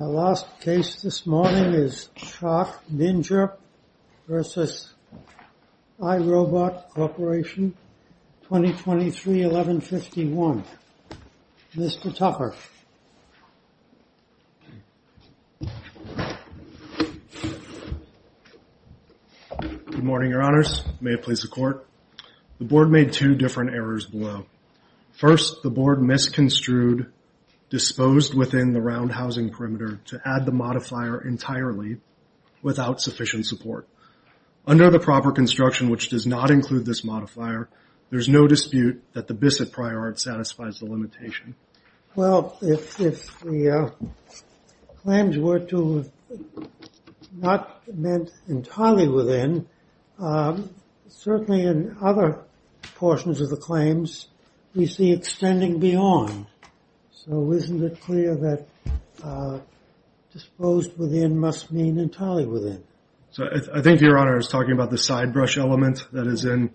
Our last case this morning is CHOC-Ninja v. iRobot Corporation, 2023-1151. Mr. Tucker. Good morning, your honors. May it please the court. The board made two different errors below. First, the board misconstrued, disposed within the round housing perimeter to add the modifier entirely without sufficient support. Under the proper construction, which does not include this modifier, there's no dispute that the BISSETT prior art satisfies the limitation. Well, if the claims were not meant entirely within, certainly in other portions of the claims, we see extending beyond. So isn't it clear that disposed within must mean entirely within? So I think your honor is talking about the side brush element that is in,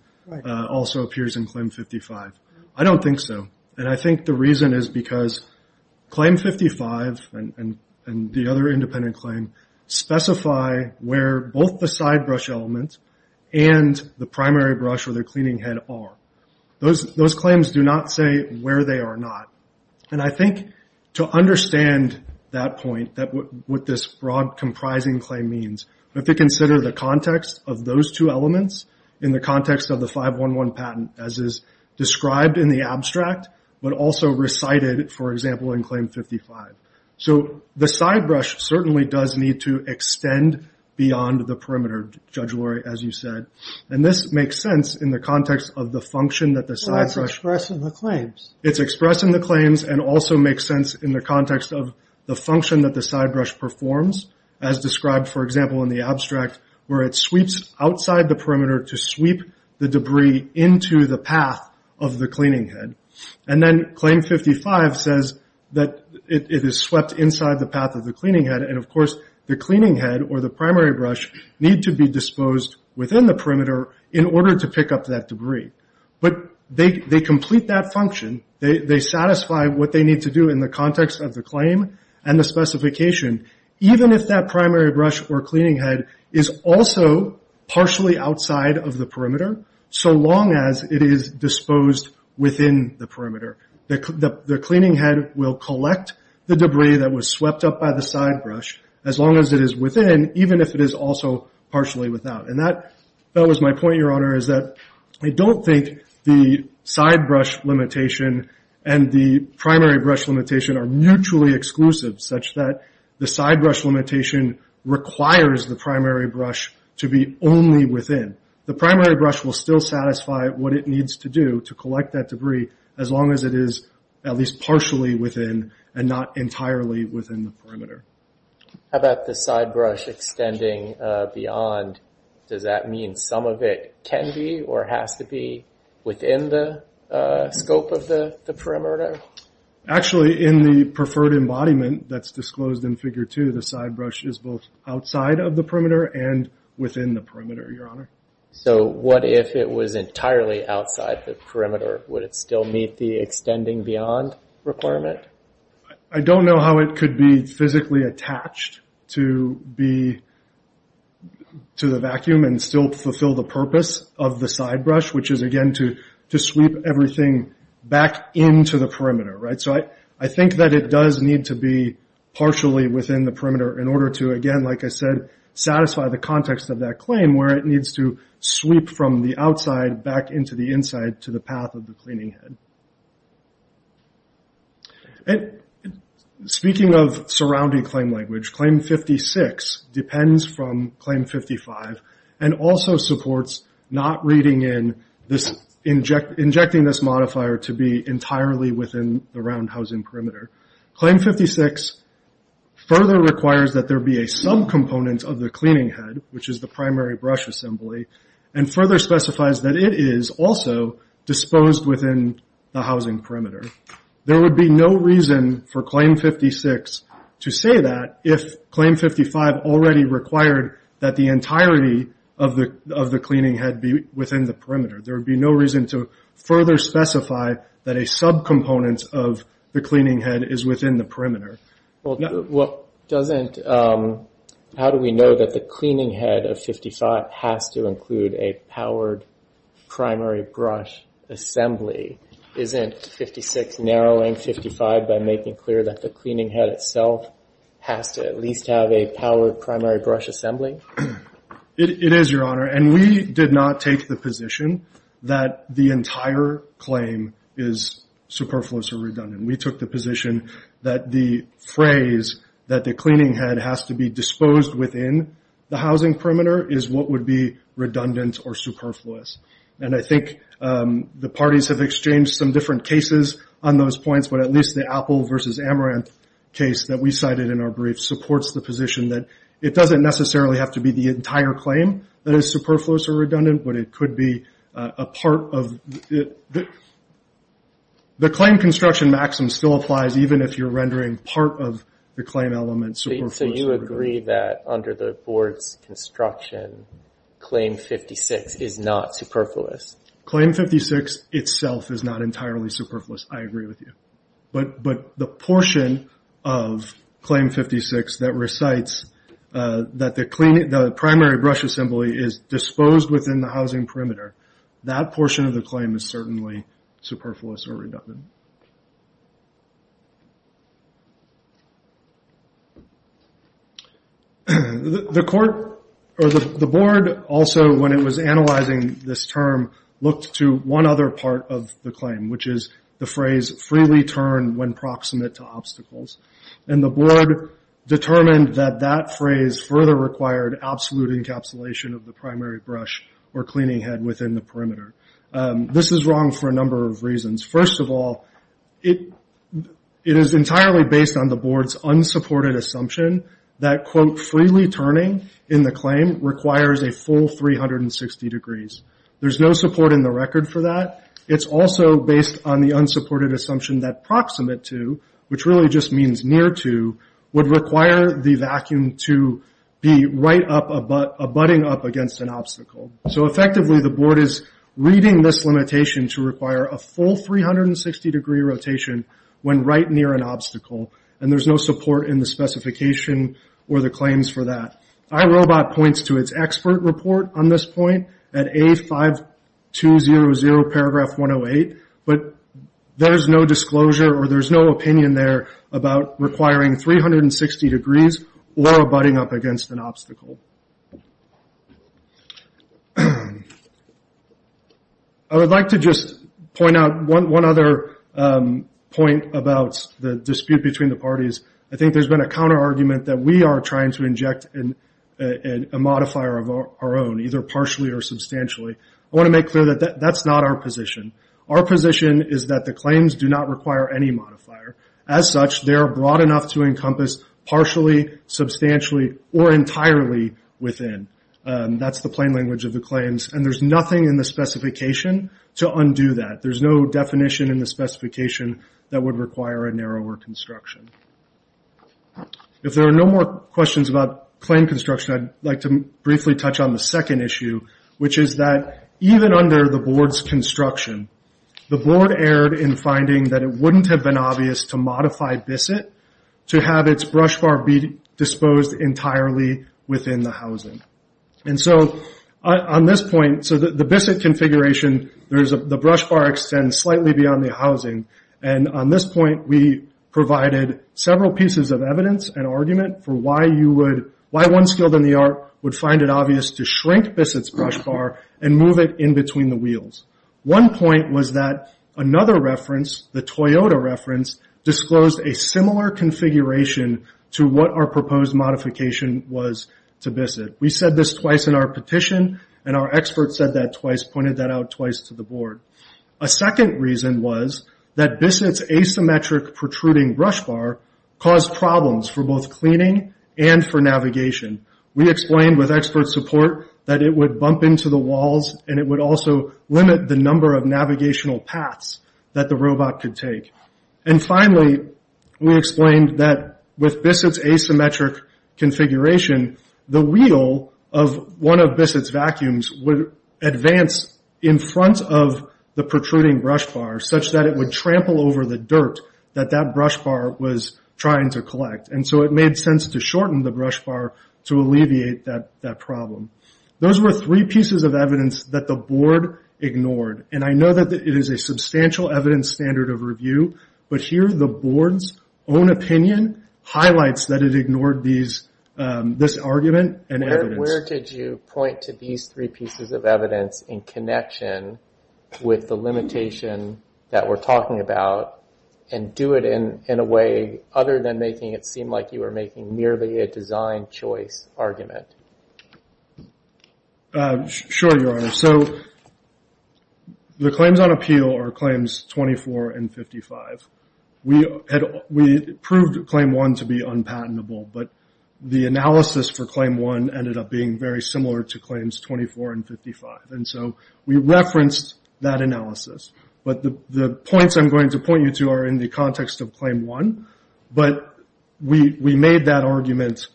also appears in claim 55. I don't think so. And I think the reason is because claim 55 and the other independent claim specify where both the side brush elements and the primary brush or the cleaning head are. Those claims do not say where they are not. And I think to understand that point, what this broad comprising claim means, we have to consider the context of those two elements in the context of the 511 patent as is described in the abstract, but also recited, for example, in claim 55. So the side brush certainly does need to extend beyond the perimeter, Judge Lurie, as you said. And this makes sense in the context of the function that the side brush... It's expressing the claims. It's expressing the claims and also makes sense in the context of the function that the side brush performs, as described, for example, in the abstract, where it sweeps outside the perimeter to sweep the debris into the path of the cleaning head. And then claim 55 says that it is swept inside the path of the cleaning head. And of course, the cleaning head or the primary brush need to be disposed within the perimeter in order to pick up that debris. But they complete that function. They satisfy what they need to do in the context of the claim and the specification, even if that primary brush or cleaning head is also partially outside of the perimeter, so long as it is disposed within the perimeter. The cleaning head will collect the debris that was swept up by the side brush as long as it is within, even if it is also partially without. And that was my point, Your Honor, is that I don't think the side brush limitation and the primary brush limitation are mutually exclusive, such that the side brush limitation requires the primary brush to be only within. The primary brush will still satisfy what it needs to do to collect that debris as long as it is at least partially within and not entirely within the perimeter. How about the side brush extending beyond? Does that mean some of it can be or has to be within the scope of the perimeter? Actually, in the preferred embodiment that's disclosed in Figure 2, the side brush is both outside of the perimeter and within the perimeter, Your Honor. So what if it was entirely outside the perimeter? Would it still meet the extending beyond requirement? I don't know how it could be physically attached to the vacuum and still fulfill the purpose of the side brush, which is, again, to sweep everything back into the perimeter, right? So I think that it does need to be partially within the perimeter in order to, again, like I said, satisfy the context of that claim where it needs to sweep from the outside back into the inside to the path of the cleaning head. Speaking of surrounding claim language, Claim 56 depends from Claim 55 and also supports not reading in this injecting this modifier to be entirely within the round housing perimeter. Claim 56 further requires that there be a subcomponent of the cleaning head, which is the primary brush assembly, and further specifies that it is also disposed within the housing perimeter. There would be no reason for Claim 56 to say that if Claim 55 already required that the entirety of the cleaning head be within the perimeter. There would be no reason to further specify Well, how do we know that the cleaning head of 55 has to include a powered primary brush assembly? Isn't 56 narrowing 55 by making clear that the cleaning head itself has to at least have a powered primary brush assembly? It is, Your Honor, and we did not take the position that the entire claim is superfluous or redundant. We took the position that the phrase that the cleaning head has to be disposed within the housing perimeter is what would be redundant or superfluous. I think the parties have exchanged some different cases on those points, but at least the Apple versus Amaranth case that we cited in our brief supports the position that it doesn't necessarily have to be the entire claim that is superfluous or redundant, but it could be a part of the claim construction. Maxim still applies even if you're rendering part of the claim element. So you agree that under the board's construction, Claim 56 is not superfluous. Claim 56 itself is not entirely superfluous. I agree with you, but the portion of Claim 56 that recites that the primary brush assembly is disposed within the housing perimeter, that portion of the claim is certainly superfluous or redundant. The board also, when it was analyzing this term, looked to one other part of the claim, which is the phrase freely turn when proximate to obstacles. The board determined that that phrase further required absolute encapsulation of the primary brush or cleaning head within the perimeter. This is wrong for a number of reasons. First of all, it is entirely based on the board's unsupported assumption that, quote, freely turning in the claim requires a full 360 degrees. There's no support in the record for that. It's also based on the unsupported assumption that proximate to, which really just means near to, would require the vacuum to be right up, abutting up against an obstacle. So effectively, the board is reading this limitation to require a full 360 degree rotation when right near an obstacle, and there's no support in the specification or the claims for that. iRobot points to its expert report on this point at A5200 paragraph 108, but there's no disclosure or there's no opinion there about requiring 360 degrees or abutting up against an obstacle. I would like to just point out one other point about the dispute between the parties. I think there's been a counter argument that we are trying to inject a modifier of our own, either partially or substantially. I want to make clear that that's not our position. Our position is that the claims do not require any modifier. As such, they are broad enough to encompass partially, substantially, or entirely within. That's the plain language of the claims, and there's nothing in the specification to undo that. There's no definition in the specification that would require a narrower construction. If there are no more questions about claim construction, I'd like to briefly touch on the second issue, which is that even under the board's construction, the board erred in finding that it wouldn't have been obvious to modify BISSET to have its brush bar be disposed entirely within the housing. The BISSET configuration, the brush bar extends slightly beyond the housing. On this point, we provided several pieces of evidence and argument for why one skilled in the art would find it obvious to shrink BISSET's brush bar and move it in between the wheels. One point was that another reference, the Toyota reference, disclosed a similar configuration to what our proposed modification was to BISSET. We said this twice in our petition, and our experts said that twice, pointed that out twice to the board. A second reason was that BISSET's asymmetric protruding brush bar caused problems for both cleaning and for navigation. We explained with expert support that it would bump into the walls, and it would also limit the number of navigational paths that the robot could take. And finally, we explained that with BISSET's asymmetric configuration, the wheel of one of BISSET's vacuums would advance in front of the protruding brush bar such that it would trample over the dirt that that brush bar was trying to collect. And so it made sense to shorten the brush bar to alleviate that problem. Those were three pieces of evidence that the board ignored. And I know that it is a substantial evidence standard of review, but here the board's own opinion highlights that it ignored this argument and evidence. Where did you point to these three pieces of evidence in connection with the limitation that we're talking about, and do it in a way other than making it seem like you were making merely a design choice argument? Sure, Your Honor. So the claims on appeal are claims 24 and 55. We proved claim one to be unpatentable, but the analysis for claim one ended up being very similar to claims 24 and 55. And so we referenced that analysis. But the points I'm going to point you to are in the context of claim one. But we made that argument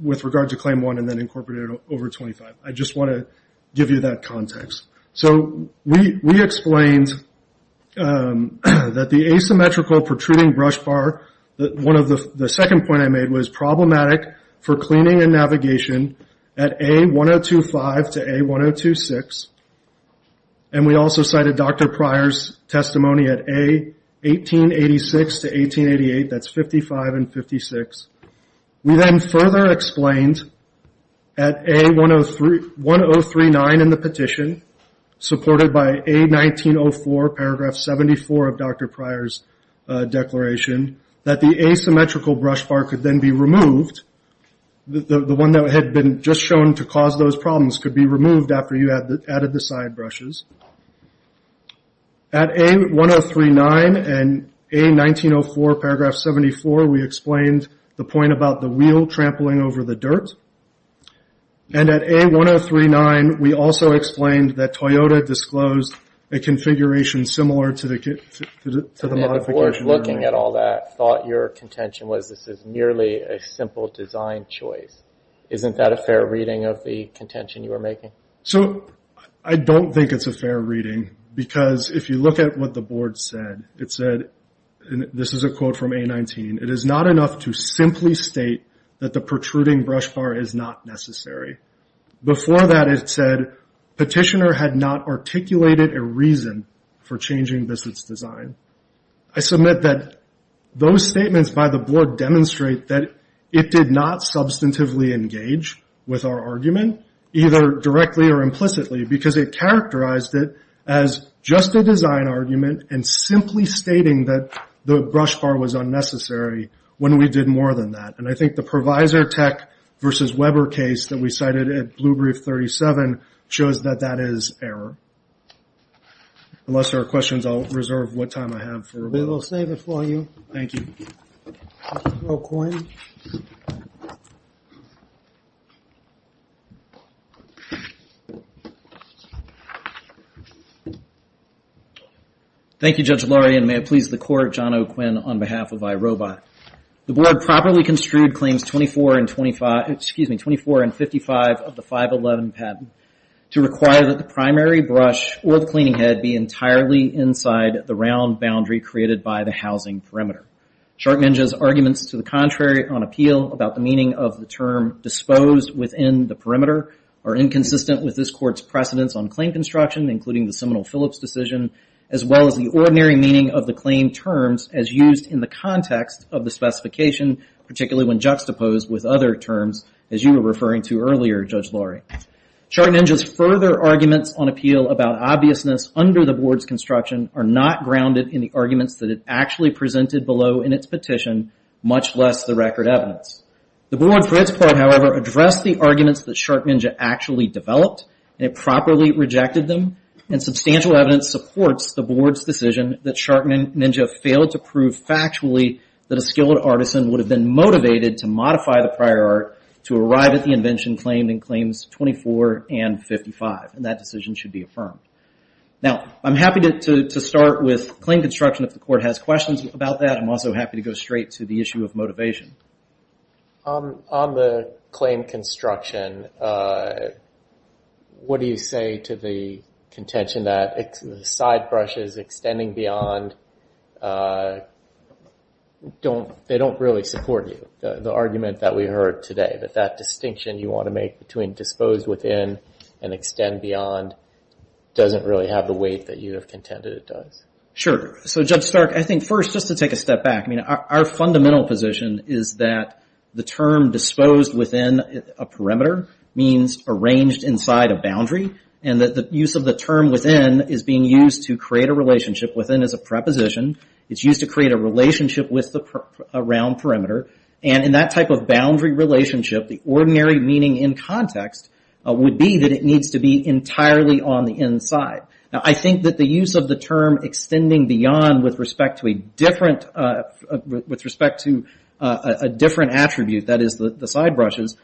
with regard to claim one and then incorporated it over 25. I just want to give you that context. So we explained that the asymmetrical protruding brush bar, the second point I made was problematic for cleaning and navigation at A1025 to A1026. And we also cited Dr. Pryor's testimony at A1886 to A1888, that's 55 and 56. We then further explained at A1039 in the petition, supported by A1904 paragraph 74 of Dr. Pryor's declaration, that the asymmetrical brush bar could then be removed. The one that had been just shown to cause those problems could be removed after you added the side brushes. At A1039 and A1904 paragraph 74, we explained the point about the wheel trampling over the dirt. And at A1039, we also explained that Toyota disclosed a configuration similar to the modification. The board, looking at all that, thought your contention was this is merely a simple design choice. Isn't that a fair reading of the contention you were making? So I don't think it's a fair reading because if you look at what the board said, it said, and this is a quote from A19, it is not enough to simply state that the protruding brush bar is not necessary. Before that it said, petitioner had not articulated a reason for changing this design. I submit that those statements by the board demonstrate that it did not substantively engage with our argument, either directly or implicitly, because it characterized it as just a design argument and simply stating that the brush bar was unnecessary when we did more than that. And I think the provisor tech versus Weber case that we cited at Blue Brief 37 shows that that is error. Unless there are questions, I'll reserve what time I have. We will save it for you. Thank you. Thank you, Judge Lurie, and may it please the court, John O'Quinn on behalf of iRobot. The board properly construed claims 24 and 25, excuse me, 24 and 55 of the 511 patent to require that the primary brush or the cleaning head be entirely inside the round boundary created by the housing perimeter. Shark Ninja's arguments to the contrary on appeal about the meaning of the term disposed within the perimeter are inconsistent with this court's precedence on claim construction, including the Seminole-Phillips decision, as well as the ordinary meaning of the claim terms as used in the context of the specification, particularly when juxtaposed with other terms, as you were referring to earlier, Judge Lurie. Shark Ninja's further arguments on appeal about obviousness under the board's construction are not grounded in the arguments that it actually presented below in its petition, much less the record evidence. The Brewer and Fritz part, however, addressed the arguments that Shark Ninja actually developed, and it properly rejected them, and substantial evidence supports the board's decision that Shark Ninja failed to prove factually that a skilled artisan would have been motivated to modify the prior art to arrive at the invention claimed in claims 24 and 55, and that decision should be affirmed. Now, I'm happy to start with claim construction if the court has questions about that. I'm also happy to go straight to the issue of motivation. On the claim construction, what do you say to the contention that side brushes extending beyond don't really support you, the argument that we heard today, that that distinction you want to make between disposed within and extend beyond doesn't really have the weight that you have contended it does? Sure. So, Judge Stark, I think first, just to take a step back, I mean, our fundamental position is that the term disposed within a perimeter means arranged inside a boundary, and that the use of the term within is being used to create a relationship within as a preposition. It's used to create a relationship with a round perimeter, and in that type of boundary relationship, the ordinary meaning in context would be that it needs to be entirely on the inside. Now, I think that the use of the term extending beyond with respect to a different attribute, that is the side brushes,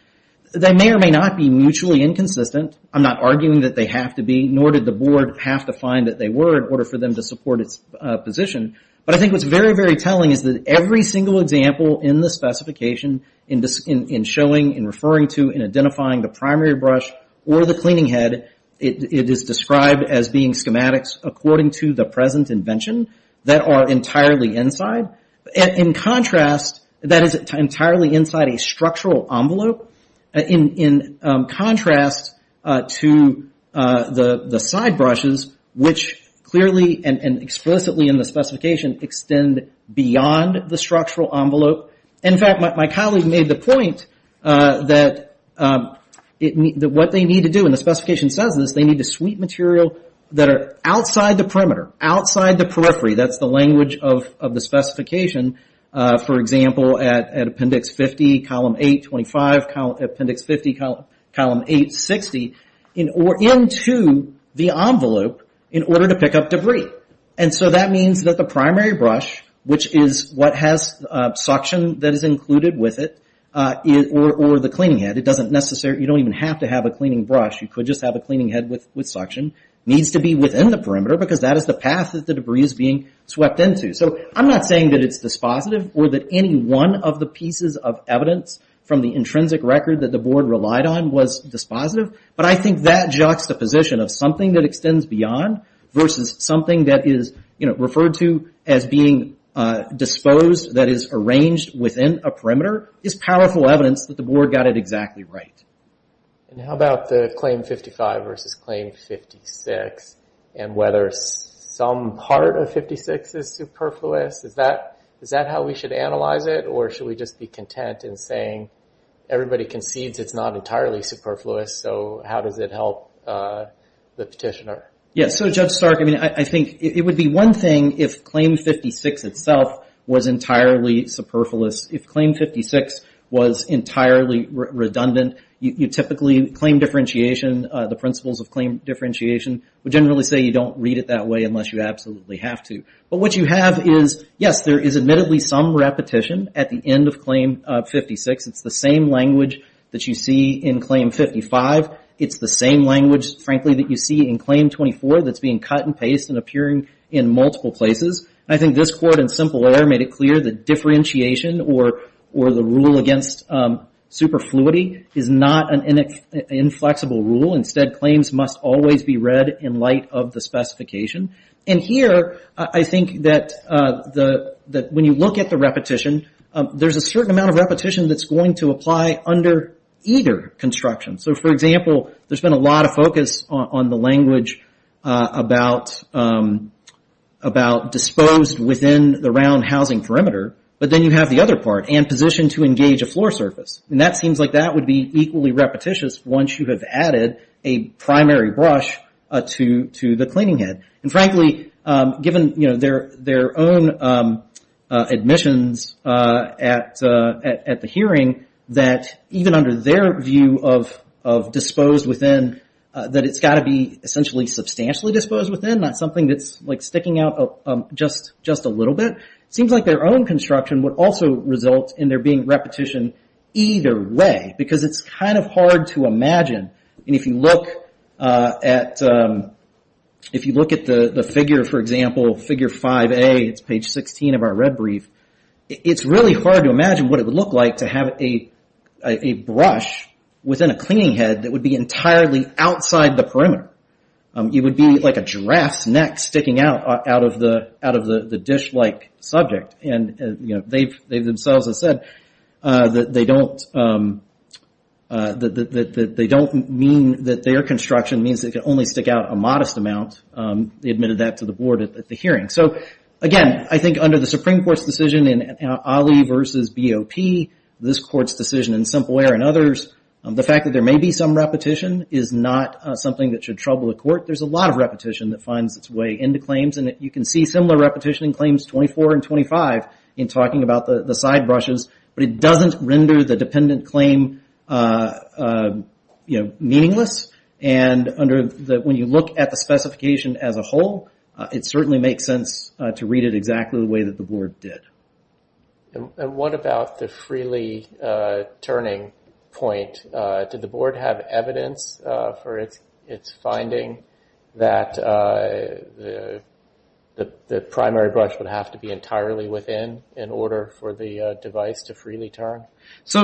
they may or may not be mutually inconsistent. I'm not arguing that they have to be, nor did the board have to find that they were in order for them to support its position, but I think what's very, very telling is that every single example in the specification, in showing, in referring to, in identifying the primary brush or the cleaning head, that it is described as being schematics according to the present invention, that are entirely inside. In contrast, that is entirely inside a structural envelope, in contrast to the side brushes, which clearly and explicitly in the specification extend beyond the structural envelope. In fact, my colleague made the point that what they need to do, and the specification says this, they need to sweep material that are outside the perimeter, outside the periphery, that's the language of the specification. For example, at appendix 50, column 825, appendix 50, column 860, or into the envelope in order to pick up debris. That means that the primary brush, which is what has suction that is included with it, or the cleaning head, you don't even have to have a cleaning brush, you could just have a cleaning head with suction, needs to be within the perimeter because that is the path that the debris is being swept into. I'm not saying that it's dispositive or that any one of the pieces of evidence from the intrinsic record that the board relied on was dispositive, but I think that juxtaposition of something that extends beyond versus something that is referred to as being disposed, that is arranged within a perimeter, is powerful evidence that the board got it exactly right. How about the claim 55 versus claim 56, and whether some part of 56 is superfluous? Is that how we should analyze it, or should we just be content in saying everybody concedes it's not entirely superfluous, so how does it help the petitioner? Yes, so Judge Stark, I think it would be one thing if claim 56 itself was entirely superfluous. If claim 56 was entirely redundant, you typically claim differentiation, the principles of claim differentiation would generally say you don't read it that way unless you absolutely have to. But what you have is, yes, there is admittedly some repetition at the end of claim 56. It's the same language that you see in claim 55. It's the same language, frankly, that you see in claim 24 that's being cut and pasted and appearing in multiple places. I think this court in simple error made it clear that differentiation or the rule against superfluity is not an inflexible rule. Instead, claims must always be read in light of the specification. And here, I think that when you look at the repetition, there's a certain amount of repetition that's going to apply under either construction. So, for example, there's been a lot of focus on the language about disposed within the round housing perimeter, but then you have the other part, and position to engage a floor surface. And that seems like that would be equally repetitious once you have added a primary brush to the cleaning head. And frankly, given their own admissions at the hearing, that even under their view of disposed within, that it's got to be essentially substantially disposed within, not something that's sticking out just a little bit. It seems like their own construction would also result in there being repetition either way, because it's kind of hard to imagine. And if you look at the figure, for example, figure 5A, it's page 16 of our red brief, it's really hard to imagine what it would look like to have a brush within a cleaning head that would be entirely outside the perimeter. It would be like a giraffe's neck sticking out of the dish-like subject. And they themselves have said that they don't mean that their construction means that it can only stick out a modest amount. They admitted that to the board at the hearing. So, again, I think under the Supreme Court's decision in Ali v. BOP, this court's decision in Simple Air and others, the fact that there may be some repetition is not something that should trouble the court. There's a lot of repetition that finds its way into claims. And you can see similar repetition in claims 24 and 25 in talking about the side brushes. But it doesn't render the dependent claim meaningless. And when you look at the specification as a whole, it certainly makes sense to read it exactly the way that the board did. What about the freely turning point? Did the board have evidence for its finding that the primary brush would have to be entirely within in order for the device to freely turn? This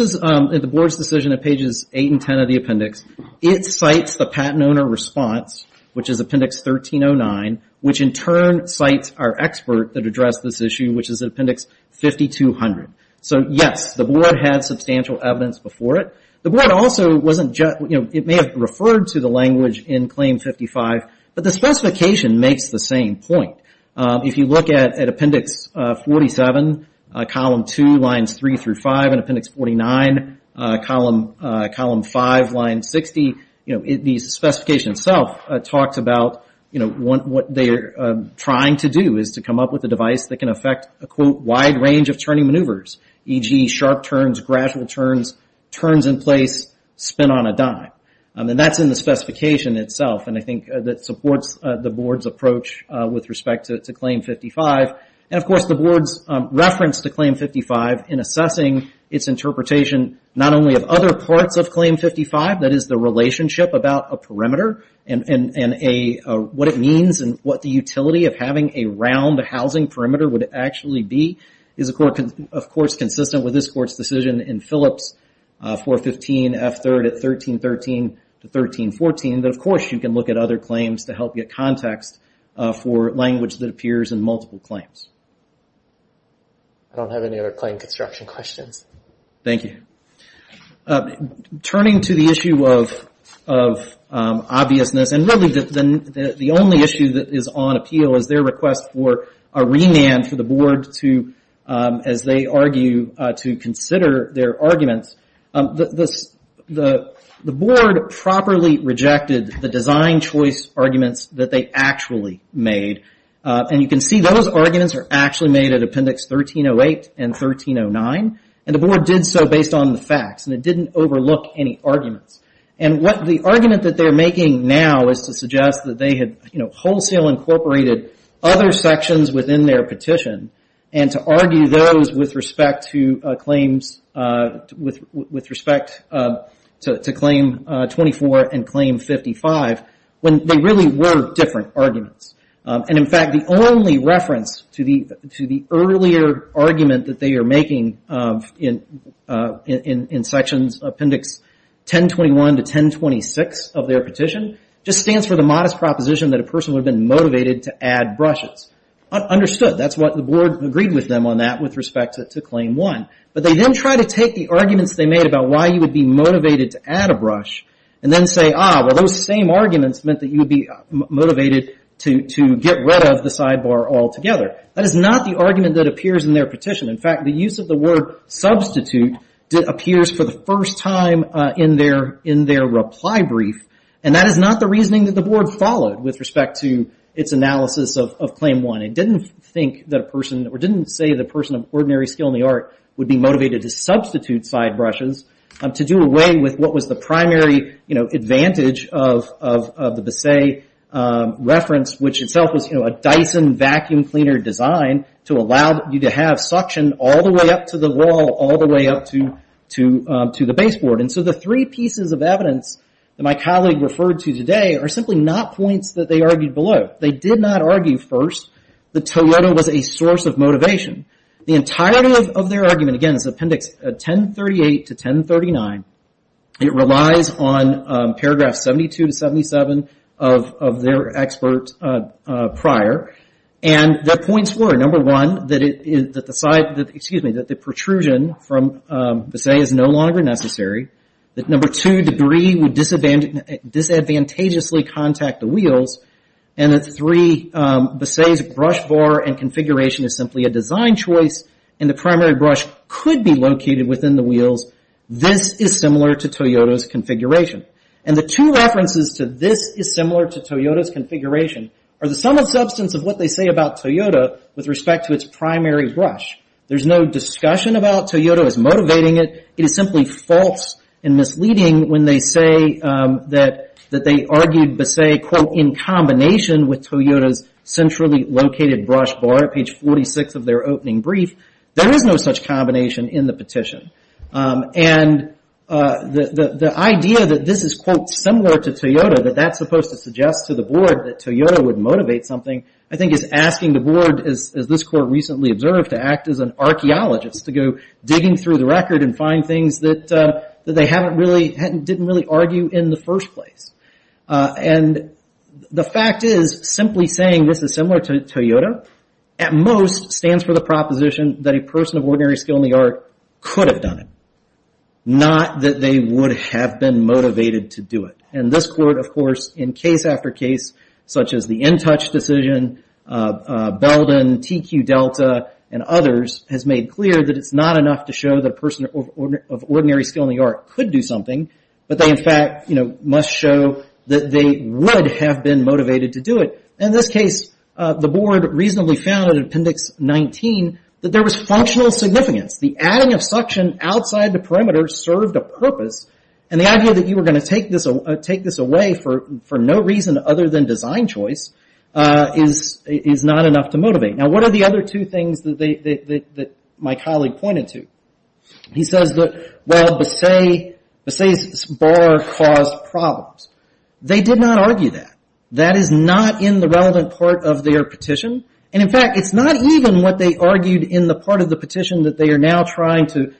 is the board's decision at pages 8 and 10 of the appendix. It cites the patent owner response, which is Appendix 1309, which in turn cites our expert that addressed this issue, which is Appendix 5200. So, yes, the board had substantial evidence before it. The board also may have referred to the language in Claim 55, but the specification makes the same point. If you look at Appendix 47, Column 2, Lines 3 through 5, and Appendix 49, Column 5, Line 60, the specification itself talks about what they're trying to do is to come up with a device that can affect a, quote, wide range of turning maneuvers, e.g. sharp turns, gradual turns, turns in place, spin on a dime. And that's in the specification itself, and I think that supports the board's approach with respect to Claim 55. And, of course, the board's reference to Claim 55 in assessing its interpretation not only of other parts of Claim 55, that is, the relationship about a perimeter and what it means and what the utility of having a round housing perimeter would actually be is, of course, consistent with this court's decision in Phillips 415 F3rd at 1313 to 1314, that, of course, you can look at other claims to help get context for language that appears in multiple claims. I don't have any other claim construction questions. Thank you. Turning to the issue of obviousness, and really the only issue that is on appeal is their request for a remand for the board to, as they argue, to consider their arguments. The board properly rejected the design choice arguments that they actually made, and you can see those arguments are actually made at Appendix 1308 and 1309, and the board did so based on the facts, and it didn't overlook any arguments. And the argument that they're making now is to suggest that they had wholesale incorporated other sections within their petition, and to argue those with respect to Claim 24 and Claim 55, when they really were different arguments. And, in fact, the only reference to the earlier argument that they are making in Sections Appendix 1021 to 1026 of their petition just stands for the modest proposition that a person would have been motivated to add brushes. Understood. That's what the board agreed with them on that with respect to Claim 1. But they then tried to take the arguments they made about why you would be motivated to add a brush, and then say, ah, well, those same arguments meant that you would be motivated to get rid of the sidebar altogether. That is not the argument that appears in their petition. In fact, the use of the word substitute appears for the first time in their reply brief, and that is not the reasoning that the board followed with respect to its analysis of Claim 1. It didn't think that a person, or didn't say that a person of ordinary skill in the art would be motivated to substitute side brushes to do away with what was the primary advantage of the Bisset reference, which itself was a Dyson vacuum cleaner design to allow you to have suction all the way up to the wall, all the way up to the baseboard. And so the three pieces of evidence that my colleague referred to today are simply not points that they argued below. They did not argue first that Toyota was a source of motivation. The entirety of their argument, again, is Appendix 1038 to 1039. It relies on paragraphs 72 to 77 of their expert prior, and their points were, number one, that the protrusion from Bisset is no longer necessary, that number two, debris would disadvantageously contact the wheels, and that three, Bisset's brush bar and configuration is simply a design choice, and the primary brush could be located within the wheels. This is similar to Toyota's configuration. And the two references to this is similar to Toyota's configuration are the sum of substance of what they say about Toyota with respect to its primary brush. There's no discussion about Toyota as motivating it. It is simply false and misleading when they say that they argued Bisset, quote, in combination with Toyota's centrally located brush bar at page 46 of their opening brief. There is no such combination in the petition. And the idea that this is, quote, similar to Toyota, that that's supposed to suggest to the board that Toyota would motivate something, I think is asking the board, as this court recently observed, to act as an archaeologist, to go digging through the record and find things that they didn't really argue in the first place. And the fact is, simply saying this is similar to Toyota, at most stands for the proposition that a person of ordinary skill in the art could have done it, not that they would have been motivated to do it. And this court, of course, in case after case, such as the InTouch decision, Belden, TQ Delta, and others, has made clear that it's not enough to show that a person of ordinary skill in the art could do something, but they, in fact, must show that they would have been motivated to do it. In this case, the board reasonably found in Appendix 19 that there was functional significance. The adding of suction outside the perimeter served a purpose, and the idea that you were going to take this away for no reason other than design choice is not enough to motivate. Now, what are the other two things that my colleague pointed to? He says that, well, Bassay's bar caused problems. They did not argue that. That is not in the relevant part of their petition, and, in fact, it's not even what they argued in the part of the petition that they are now trying to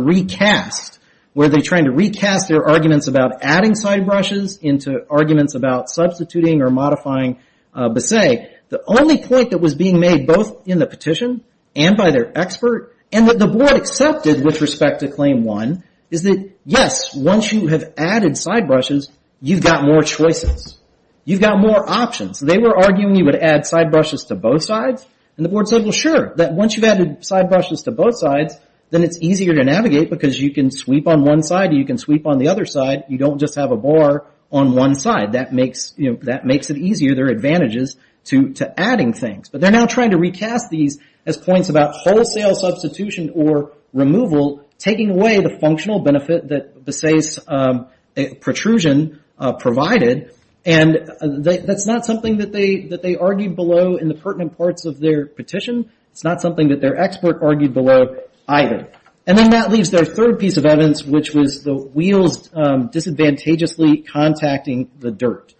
recast, where they're trying to recast their arguments about adding side brushes into arguments about substituting or modifying Bassay. The only point that was being made both in the petition and by their expert, and that the board accepted with respect to Claim 1, is that, yes, once you have added side brushes, you've got more choices. You've got more options. They were arguing you would add side brushes to both sides, and the board said, well, sure, that once you've added side brushes to both sides, then it's easier to navigate because you can sweep on one side or you can sweep on the other side. You don't just have a bar on one side. That makes it easier. There are advantages to adding things, but they're now trying to recast these as points about wholesale substitution or removal taking away the functional benefit that Bassay's protrusion provided, and that's not something that they argued below in the pertinent parts of their petition. It's not something that their expert argued below either. Then that leaves their third piece of evidence, which was the wheels disadvantageously contacting the dirt.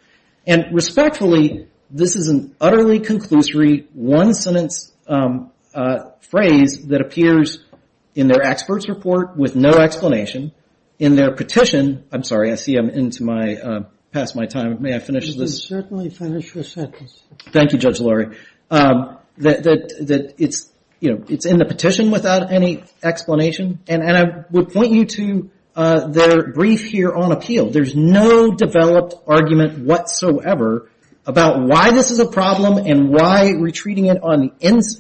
Respectfully, this is an utterly conclusory one-sentence phrase that appears in their expert's report with no explanation. In their petition, I'm sorry, I see I'm past my time. May I finish this? You can certainly finish your sentence. Thank you, Judge Lurie. It's in the petition without any explanation, and I would point you to their brief here on appeal. There's no developed argument whatsoever about why this is a problem and why retreating it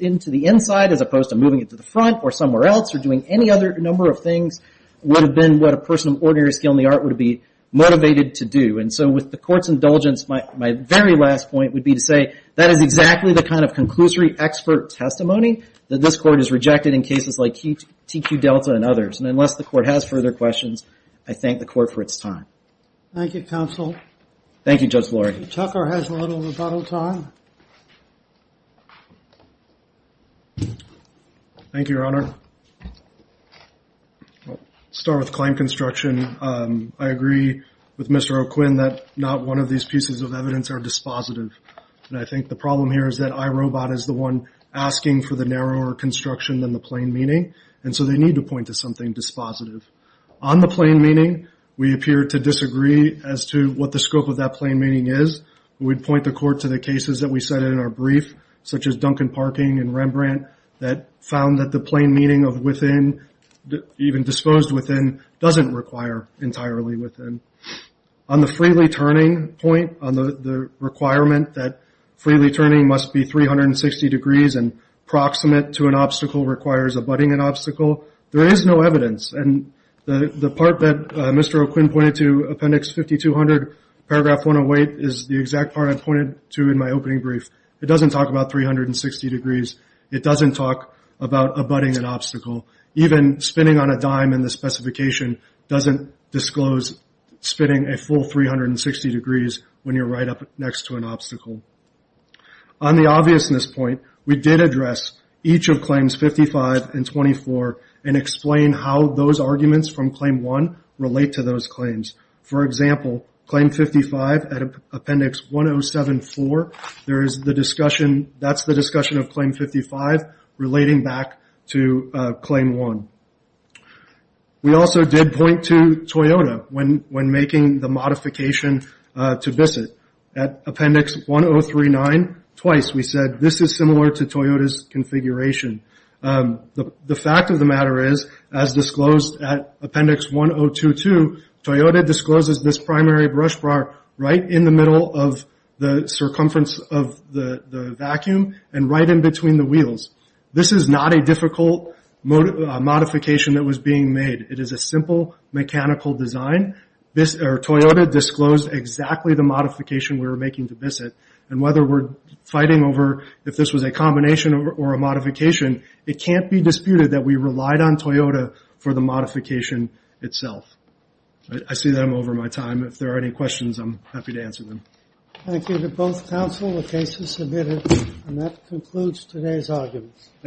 into the inside as opposed to moving it to the front or somewhere else or doing any other number of things would have been what a person of ordinary skill in the art would have been motivated to do. And so with the court's indulgence, my very last point would be to say that is exactly the kind of conclusory expert testimony that this court has rejected in cases like TQ Delta and others. And unless the court has further questions, I thank the court for its time. Thank you, counsel. Thank you, Judge Lurie. If Tucker has a little rebuttal time. Thank you, Your Honor. I'll start with claim construction. I agree with Mr. O'Quinn that not one of these pieces of evidence are dispositive. And I think the problem here is that iRobot is the one asking for the narrower construction than the plain meaning, and so they need to point to something dispositive. On the plain meaning, we appear to disagree as to what the scope of that plain meaning is. We would point the court to the cases that we cited in our brief, such as Duncan Parking and Rembrandt, that found that the plain meaning of within, even disposed within, doesn't require entirely within. On the freely turning point, on the requirement that freely turning must be 360 degrees and proximate to an obstacle requires abutting an obstacle, there is no evidence. And the part that Mr. O'Quinn pointed to, Appendix 5200, Paragraph 108, is the exact part I pointed to in my opening brief. It doesn't talk about 360 degrees. It doesn't talk about abutting an obstacle. Even spinning on a dime in the specification doesn't disclose spinning a full 360 degrees when you're right up next to an obstacle. On the obviousness point, we did address each of Claims 55 and 24 and explain how those arguments from Claim 1 relate to those claims. For example, Claim 55 at Appendix 1074, that's the discussion of Claim 55 relating back to Claim 1. We also did point to Toyota when making the modification to VISIT. At Appendix 1039, twice we said, this is similar to Toyota's configuration. The fact of the matter is, as disclosed at Appendix 1022, Toyota discloses this primary brush bar right in the middle of the circumference of the vacuum and right in between the wheels. This is not a difficult modification that was being made. It is a simple mechanical design. Whether we're fighting over if this was a combination or a modification, it can't be disputed that we relied on Toyota for the modification itself. I see that I'm over my time. If there are any questions, I'm happy to answer them. Thank you to both counsel. The case is submitted. That concludes today's arguments.